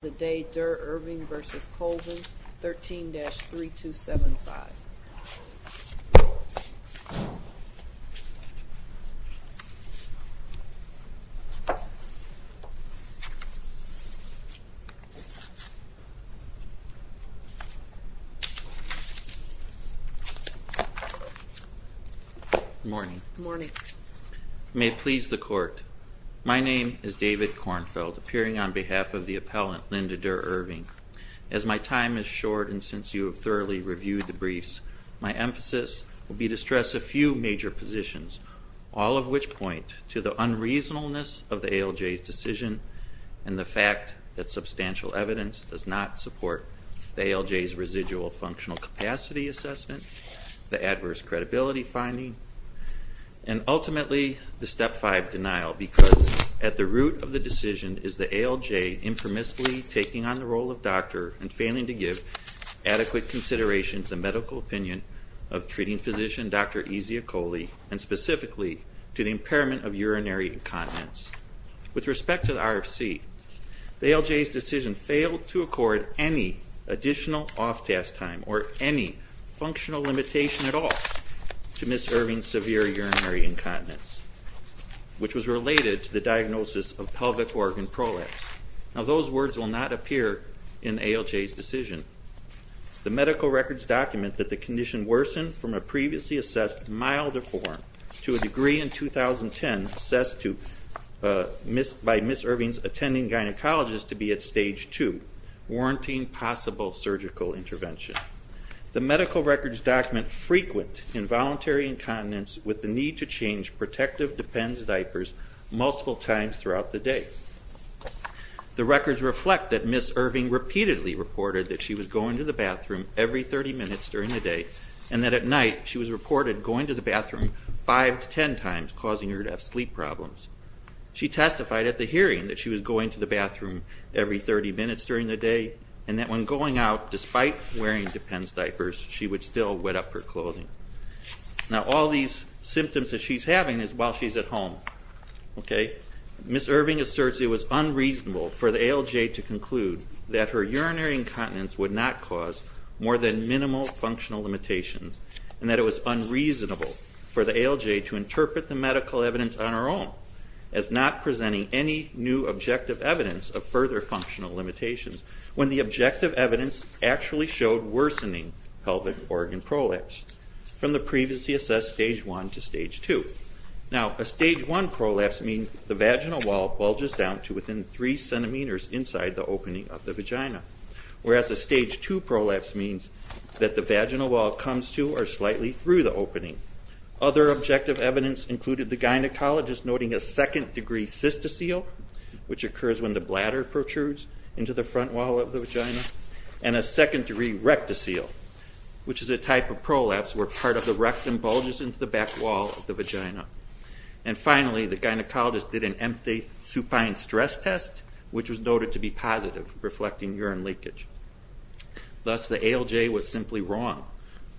Durr-Irving v. Colvin, 13-3275. Good morning. Good morning. May it please the Court, my name is David Kornfeld, appearing on behalf of the appellant Linda Durr-Irving. As my time is short and since you have thoroughly reviewed the briefs, my emphasis will be to stress a few major positions, all of which point to the unreasonableness of the ALJ's decision and the fact that substantial evidence does not support the ALJ's residual functional capacity assessment, the adverse credibility finding, and ultimately the Step 5 denial because at the root of the decision is the ALJ infamously taking on the role of doctor and failing to give adequate consideration to the medical opinion of treating physician Dr. Ezia Coley and specifically to the impairment of urinary incontinence. With respect to the RFC, the ALJ's decision failed to accord any additional off-task time or any functional limitation at all to Ms. Irving's severe urinary incontinence, which was related to the diagnosis of pelvic organ prolapse. Now those words will not appear in the ALJ's decision. The medical records document that the condition worsened from a previously assessed milder form to a degree in 2010 assessed by Ms. Irving's attending gynecologist to be at stage 2, warranting possible surgical intervention. The medical records document frequent involuntary incontinence with the need to change protective depends diapers multiple times throughout the day. The records reflect that Ms. Irving repeatedly reported that she was going to the bathroom every 30 minutes during the day and that at night she was reported going to the bathroom 5 to 10 times, causing her to have sleep problems. She testified at the hearing that she was going to the bathroom every 30 minutes during the day and that when going out, despite wearing depends diapers, she would still wet up her clothing. Now all these symptoms that she's having is while she's at home. Ms. Irving asserts it was unreasonable for the ALJ to conclude that her urinary incontinence would not cause more than minimal functional limitations and that it was unreasonable for the ALJ to interpret the medical evidence on her own as not presenting any new objective evidence of further functional limitations when the objective evidence actually showed worsening pelvic organ prolapse from the previously assessed stage 1 to stage 2. Now a stage 1 prolapse means the vaginal wall bulges down to within 3 centimeters inside the opening of the vagina, whereas a stage 2 prolapse means that the vaginal wall comes to or slightly through the opening. Other objective evidence included the gynecologist noting a second degree cystocele, which occurs when the bladder protrudes into the front wall of the vagina, and a second degree rectocele, which is a type of prolapse where part of the rectum bulges into the back wall of the vagina. And finally the gynecologist did an empty supine stress test, which was noted to be positive, reflecting urine leakage. Thus the ALJ was simply wrong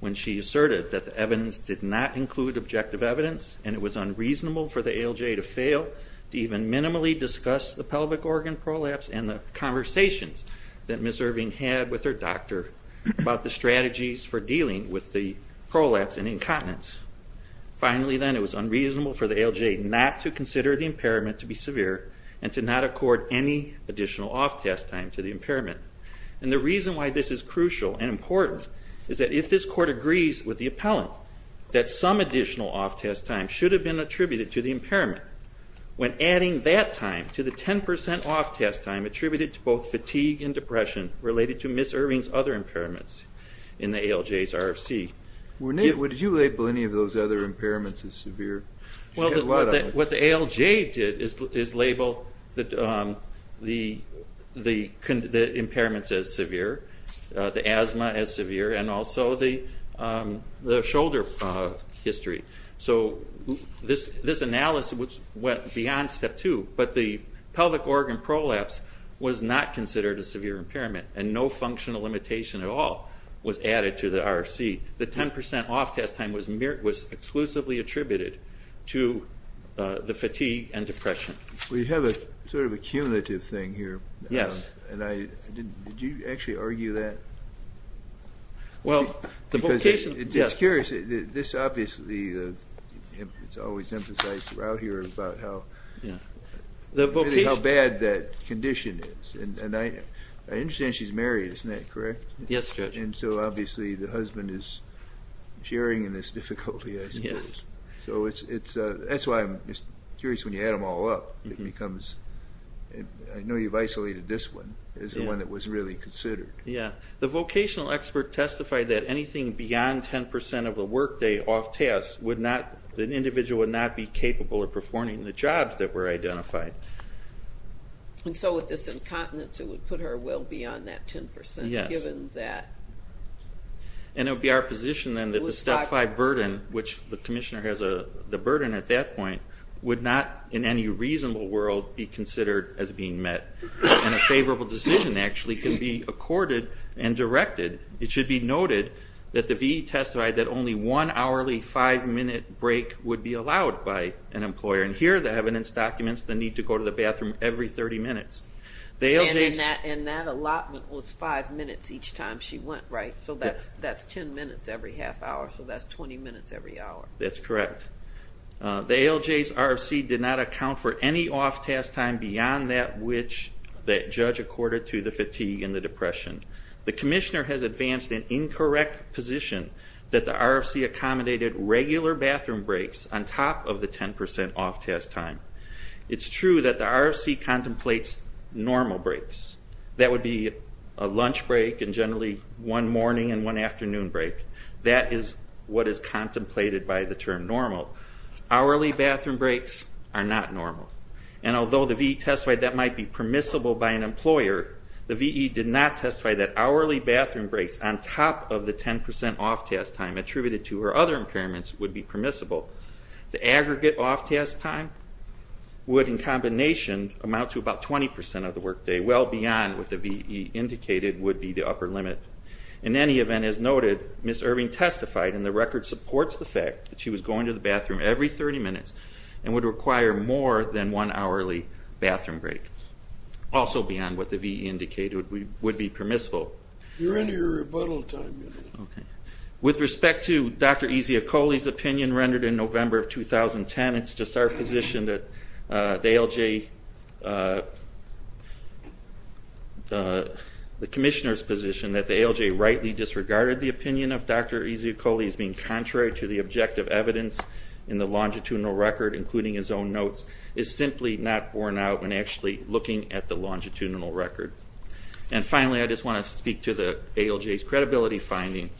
when she asserted that the evidence did not include objective evidence and it was unreasonable for the ALJ to fail to even minimally discuss the pelvic organ prolapse and the conversations that Ms. Irving had with her doctor about the strategies for dealing with the prolapse and incontinence. Finally then, it was unreasonable for the ALJ not to consider the impairment to be severe and to not accord any additional off-test time to the impairment. And the reason why this is crucial and important is that if this Court agrees with the appellant that some additional off-test time should have been attributed to the impairment, when adding that time to the 10% off-test time attributed to both fatigue and depression related to Ms. Irving's other impairments in the ALJ's RFC... Would you label any of those other impairments as severe? What the ALJ did is label the impairments as severe, the asthma as severe, and also the shoulder history. So this analysis went beyond step two, but the pelvic organ prolapse was not considered a severe impairment and no functional limitation at all was added to the RFC. The 10% off-test time was exclusively attributed to the fatigue and depression. We have a sort of a cumulative thing here. Yes. Did you actually argue that? Well, the vocation... It's curious, this obviously is always emphasized throughout here about how bad that condition is. And I understand she's married, isn't that correct? Yes, Judge. And so obviously the husband is sharing in this difficulty, I suppose. Yes. So that's why I'm curious when you add them all up, it becomes... I know you've isolated this one as the one that was really considered. Yes. The vocational expert testified that anything beyond 10% of the workday off-test, an individual would not be capable of performing the jobs that were identified. And so with this incontinence, it would put her well beyond that 10% given that... And it would be our position then that the step five burden, which the commissioner has the burden at that point, would not in any reasonable world be considered as being met. And a favorable decision actually can be accorded and directed. It should be noted that the VE testified that only one hourly five-minute break would be allowed by an employer. And here the evidence documents the need to go to the bathroom every 30 minutes. And that allotment was five minutes each time she went, right? Yes. So that's 10 minutes every half hour, so that's 20 minutes every hour. That's correct. The ALJ's RFC did not account for any off-test time beyond that which the judge accorded to the fatigue and the depression. The commissioner has advanced an incorrect position that the RFC accommodated regular bathroom breaks on top of the 10% off-test time. It's true that the RFC contemplates normal breaks. That would be a lunch break and generally one morning and one afternoon break. That is what is contemplated by the term normal. Hourly bathroom breaks are not normal. And although the VE testified that might be permissible by an employer, the VE did not testify that hourly bathroom breaks on top of the 10% off-test time attributed to her other impairments would be permissible. The aggregate off-test time would, in combination, amount to about 20% of the workday, well beyond what the VE indicated would be the upper limit. In any event, as noted, Ms. Irving testified, and the record supports the fact that she was going to the bathroom every 30 minutes and would require more than one hourly bathroom break, also beyond what the VE indicated would be permissible. You're in your rebuttal time. With respect to Dr. Eziakouli's opinion rendered in November of 2010, it's just our position that the ALJ, the Commissioner's position, that the ALJ rightly disregarded the opinion of Dr. Eziakouli as being contrary to the objective evidence in the longitudinal record, including his own notes, is simply not borne out when actually looking at the longitudinal record. And finally, I just want to speak to the ALJ's credibility finding.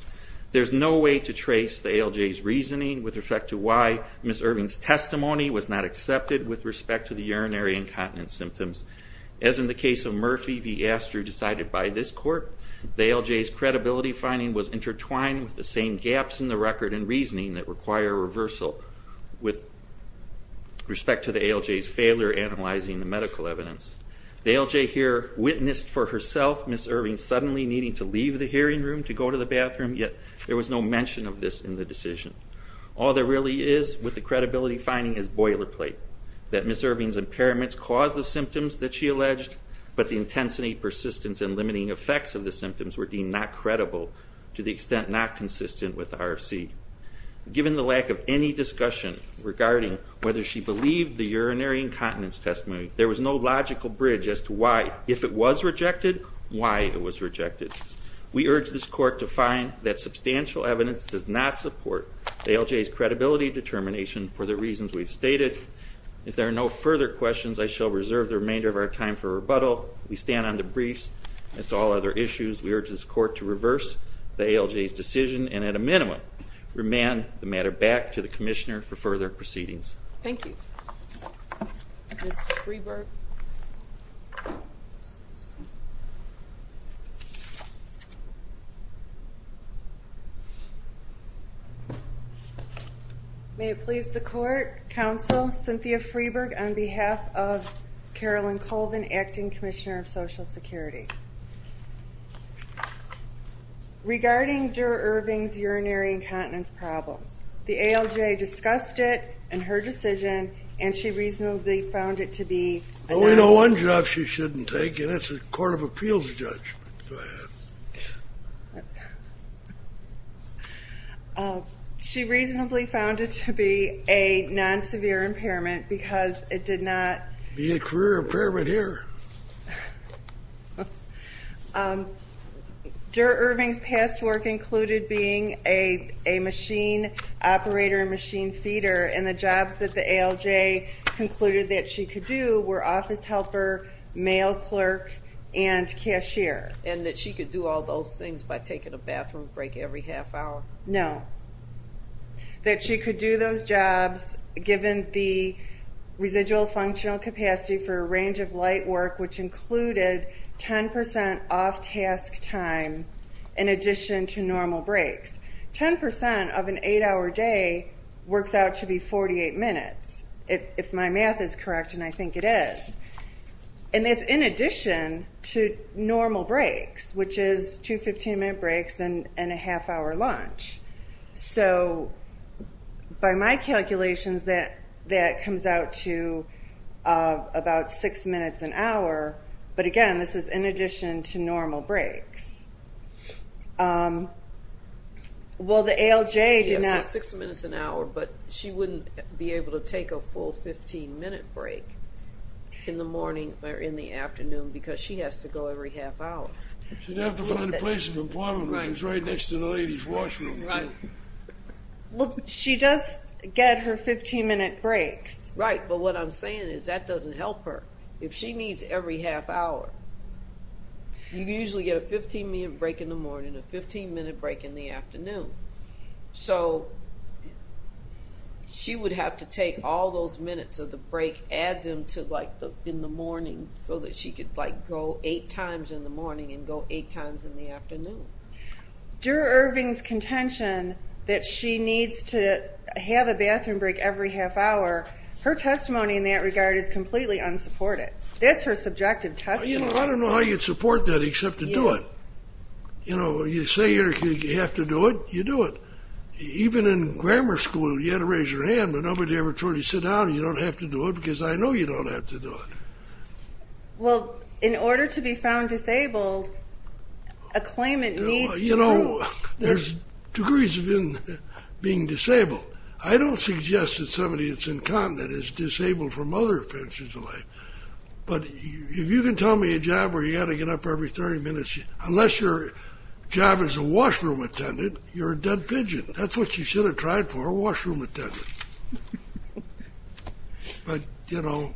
There's no way to trace the ALJ's reasoning with respect to why Ms. Irving's testimony was not accepted with respect to the urinary incontinence symptoms. As in the case of Murphy v. Astrew decided by this court, the ALJ's credibility finding was intertwined with the same gaps in the record and reasoning that require reversal with respect to the ALJ's failure analyzing the medical evidence. The ALJ here witnessed for herself Ms. Irving suddenly needing to leave the hearing room to go to the bathroom, yet there was no mention of this in the decision. All there really is with the credibility finding is boilerplate, that Ms. Irving's impairments caused the symptoms that she alleged, but the intensity, persistence, and limiting effects of the symptoms were deemed not credible, to the extent not consistent with the RFC. Given the lack of any discussion regarding whether she believed the urinary incontinence testimony, there was no logical bridge as to why, if it was rejected, why it was rejected. We urge this court to find that substantial evidence does not support the ALJ's credibility determination for the reasons we've stated. If there are no further questions, I shall reserve the remainder of our time for rebuttal. We stand on the briefs. As to all other issues, we urge this court to reverse the ALJ's decision and at a minimum remand the matter back to the Commissioner for further proceedings. Thank you. Ms. Freeberg. May it please the Court, Counsel Cynthia Freeberg, on behalf of Carolyn Colvin, Acting Commissioner of Social Security. Regarding Dura Irving's urinary incontinence problems, the ALJ discussed it in her decision, and she reasonably found it to be a non- Well, we know one job she shouldn't take, and that's a Court of Appeals judgment. Go ahead. She reasonably found it to be a non-severe impairment because it did not Be a career impairment here. Dura Irving's past work included being a machine operator and machine feeder, and the jobs that the ALJ concluded that she could do were office helper, mail clerk, and cashier. And that she could do all those things by taking a bathroom break every half hour? No. That she could do those jobs given the residual functional capacity for a range of light work, which included 10% off-task time in addition to normal breaks. Ten percent of an eight-hour day works out to be 48 minutes, if my math is correct, and I think it is. And it's in addition to normal breaks, which is two 15-minute breaks and a half-hour lunch. So by my calculations, that comes out to about six minutes an hour, but again, this is in addition to normal breaks. Well, the ALJ did not- Yeah, so six minutes an hour, but she wouldn't be able to take a full 15-minute break in the morning or in the afternoon because she has to go every half hour. She'd have to find a place of employment, which is right next to the ladies' washroom. Well, she does get her 15-minute breaks. Right, but what I'm saying is that doesn't help her. If she needs every half hour, you usually get a 15-minute break in the morning and a 15-minute break in the afternoon. So she would have to take all those minutes of the break, add them in the morning so that she could go eight times in the morning and go eight times in the afternoon. Due to Irving's contention that she needs to have a bathroom break every half hour, her testimony in that regard is completely unsupported. That's her subjective testimony. I don't know how you'd support that except to do it. You say you have to do it, you do it. Even in grammar school, you had to raise your hand, but nobody ever told you to sit down and you don't have to do it because I know you don't have to do it. Well, in order to be found disabled, a claimant needs to prove. You know, there's degrees of being disabled. I don't suggest that somebody that's incontinent is disabled from other offenses in life. But if you can tell me a job where you've got to get up every 30 minutes, unless your job is a washroom attendant, you're a dead pigeon. That's what you should have tried for, a washroom attendant. But, you know,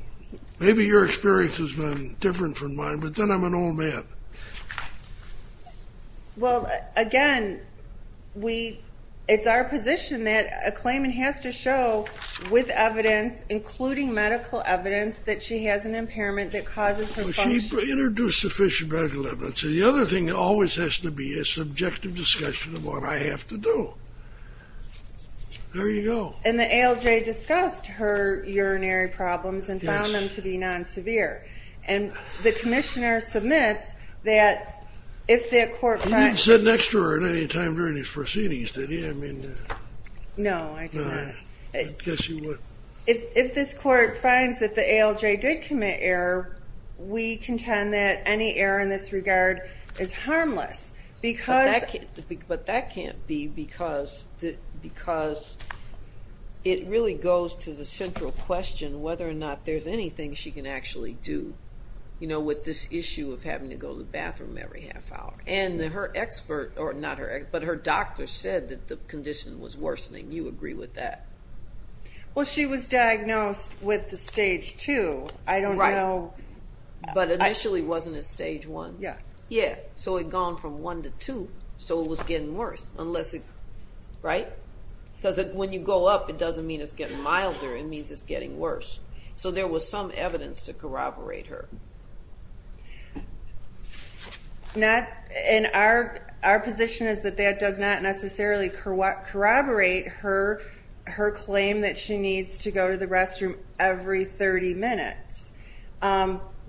maybe your experience has been different from mine, but then I'm an old man. Well, again, it's our position that a claimant has to show with evidence, including medical evidence, that she has an impairment that causes her function. She introduced sufficient medical evidence. The other thing always has to be a subjective discussion of what I have to do. There you go. And the ALJ discussed her urinary problems and found them to be non-severe. Yes. And the commissioner submits that if the court finds... You didn't sit next to her at any time during these proceedings, did you? I mean... No, I did not. I guess you would. If this court finds that the ALJ did commit error, we contend that any error in this regard is harmless because... But that can't be because it really goes to the central question whether or not there's anything she can actually do, you know, with this issue of having to go to the bathroom every half hour. And her doctor said that the condition was worsening. You agree with that? Well, she was diagnosed with the Stage 2. I don't know... But initially wasn't it Stage 1? Yes. Yeah, so it had gone from 1 to 2, so it was getting worse, right? Because when you go up, it doesn't mean it's getting milder, it means it's getting worse. So there was some evidence to corroborate her. And our position is that that does not necessarily corroborate her claim that she needs to go to the restroom every 30 minutes.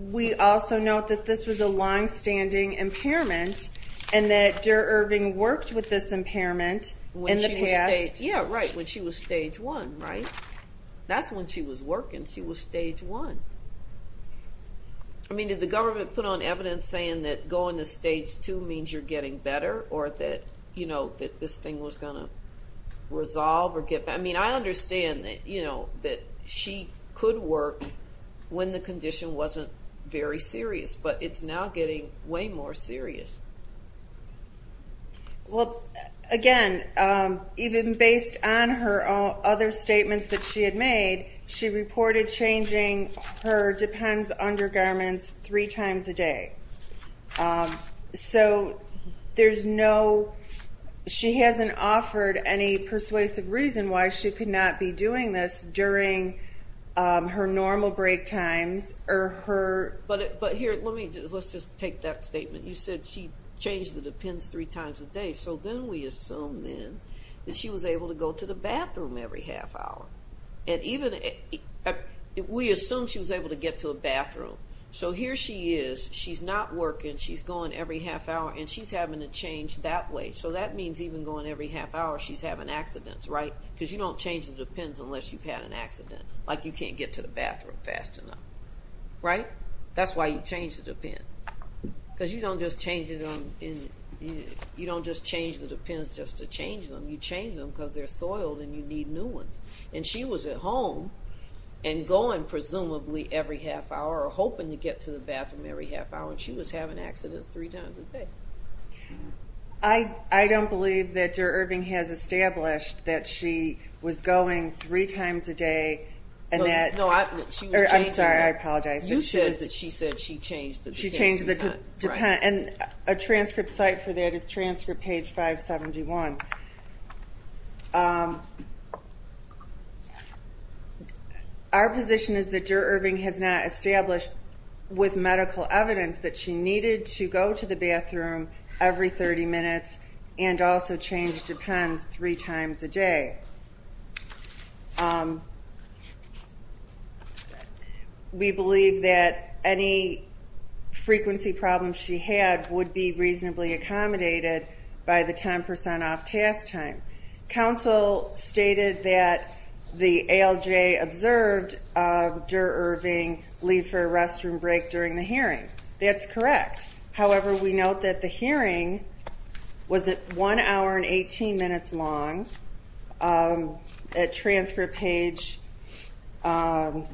We also note that this was a longstanding impairment and that Dara Irving worked with this impairment in the past. Yeah, right, when she was Stage 1, right? That's when she was working, she was Stage 1. I mean, did the government put on evidence saying that going to Stage 2 means you're getting better or that this thing was going to resolve? I mean, I understand that she could work when the condition wasn't very serious, but it's now getting way more serious. Well, again, even based on her other statements that she had made, she reported changing her depends undergarments three times a day. So there's no, she hasn't offered any persuasive reason why she could not be doing this during her normal break times or her. But here, let's just take that statement. You said she changed the depends three times a day. So then we assume then that she was able to go to the bathroom every half hour. And even, we assume she was able to get to a bathroom. So here she is, she's not working, she's going every half hour, and she's having to change that way. So that means even going every half hour, she's having accidents, right? Because you don't change the depends unless you've had an accident, like you can't get to the bathroom fast enough, right? That's why you change the depend. Because you don't just change the depends just to change them. You change them because they're soiled and you need new ones. And she was at home and going presumably every half hour or hoping to get to the bathroom every half hour, and she was having accidents three times a day. I don't believe that Der Irving has established that she was going three times a day and that she was changing. I'm sorry, I apologize. You said that she said she changed the depends three times. She changed the depends. And a transcript site for that is transcript page 571. Our position is that Der Irving has not established with medical evidence that she needed to go to the bathroom every 30 minutes and also change depends three times a day. We believe that any frequency problems she had would be reasonably accommodated by the 10% off task time. Council stated that the ALJ observed Der Irving leave for a restroom break during the hearing. That's correct. However, we note that the hearing was at one hour and 18 minutes long. At transcript page 61,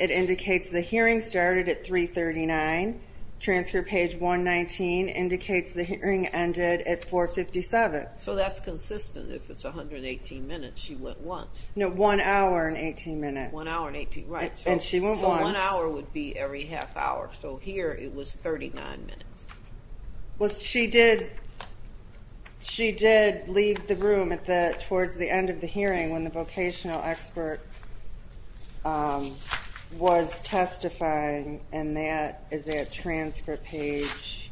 it indicates the hearing started at 339. Transcript page 119 indicates the hearing ended at 457. So that's consistent. If it's 118 minutes, she went once. No, one hour and 18 minutes. One hour and 18, right. And she went once. So one hour would be every half hour. So here it was 39 minutes. She did leave the room towards the end of the hearing when the vocational expert was testifying, and that is at transcript page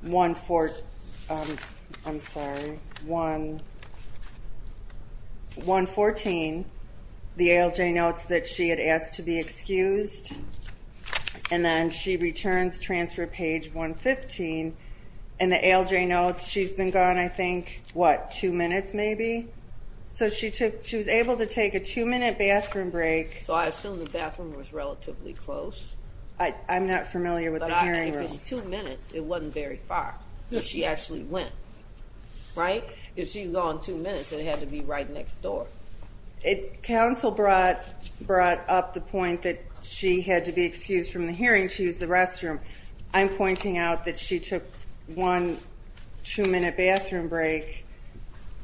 114. The ALJ notes that she had asked to be excused, and then she returns transcript page 115. In the ALJ notes, she's been gone, I think, what, two minutes maybe? So she was able to take a two-minute bathroom break. So I assume the bathroom was relatively close. I'm not familiar with the hearing room. If it's two minutes, it wasn't very far. She actually went, right? If she's gone two minutes, it had to be right next door. Counsel brought up the point that she had to be excused from the hearing. She was in the restroom. I'm pointing out that she took one two-minute bathroom break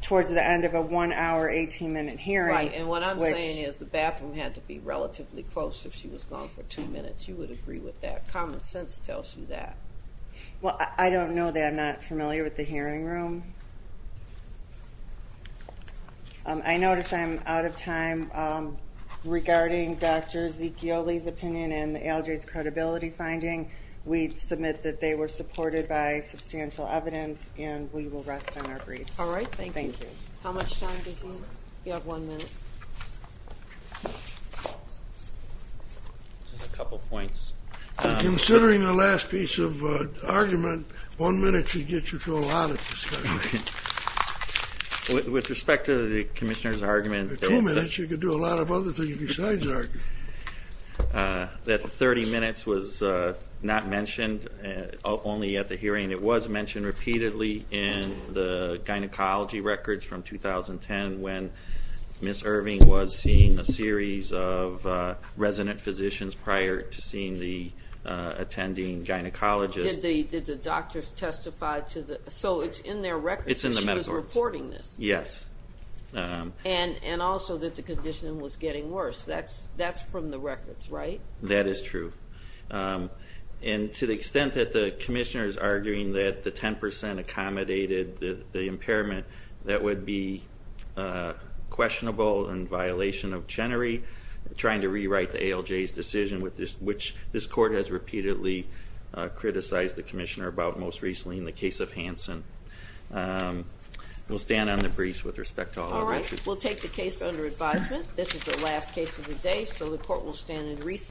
towards the end of a one-hour, 18-minute hearing. Right, and what I'm saying is the bathroom had to be relatively close if she was gone for two minutes. You would agree with that. Common sense tells you that. Well, I don't know that. I'm not familiar with the hearing room. I notice I'm out of time. Regarding Dr. Zicchioli's opinion and the ALJ's credibility finding, we submit that they were supported by substantial evidence, and we will rest on our briefs. All right, thank you. Thank you. How much time does he have? You have one minute. Just a couple points. Considering the last piece of argument, one minute should get you to a lot of discussion. With respect to the Commissioner's argument. Two minutes, you could do a lot of other things besides argue. That 30 minutes was not mentioned, only at the hearing. It was mentioned repeatedly in the gynecology records from 2010 when Ms. Irving was seeing a series of resident physicians prior to seeing the attending gynecologist. Did the doctors testify? So it's in their records that she was reporting this. Yes. And also that the condition was getting worse. That's from the records, right? That is true. And to the extent that the Commissioner is arguing that the 10% accommodated the impairment, that would be questionable in violation of Chenery, trying to rewrite the ALJ's decision, which this court has repeatedly criticized the Commissioner about, most recently in the case of Hanson. We'll stand on the briefs with respect to all our records. All right, we'll take the case under advisement. This is the last case of the day, so the court will stand in recess.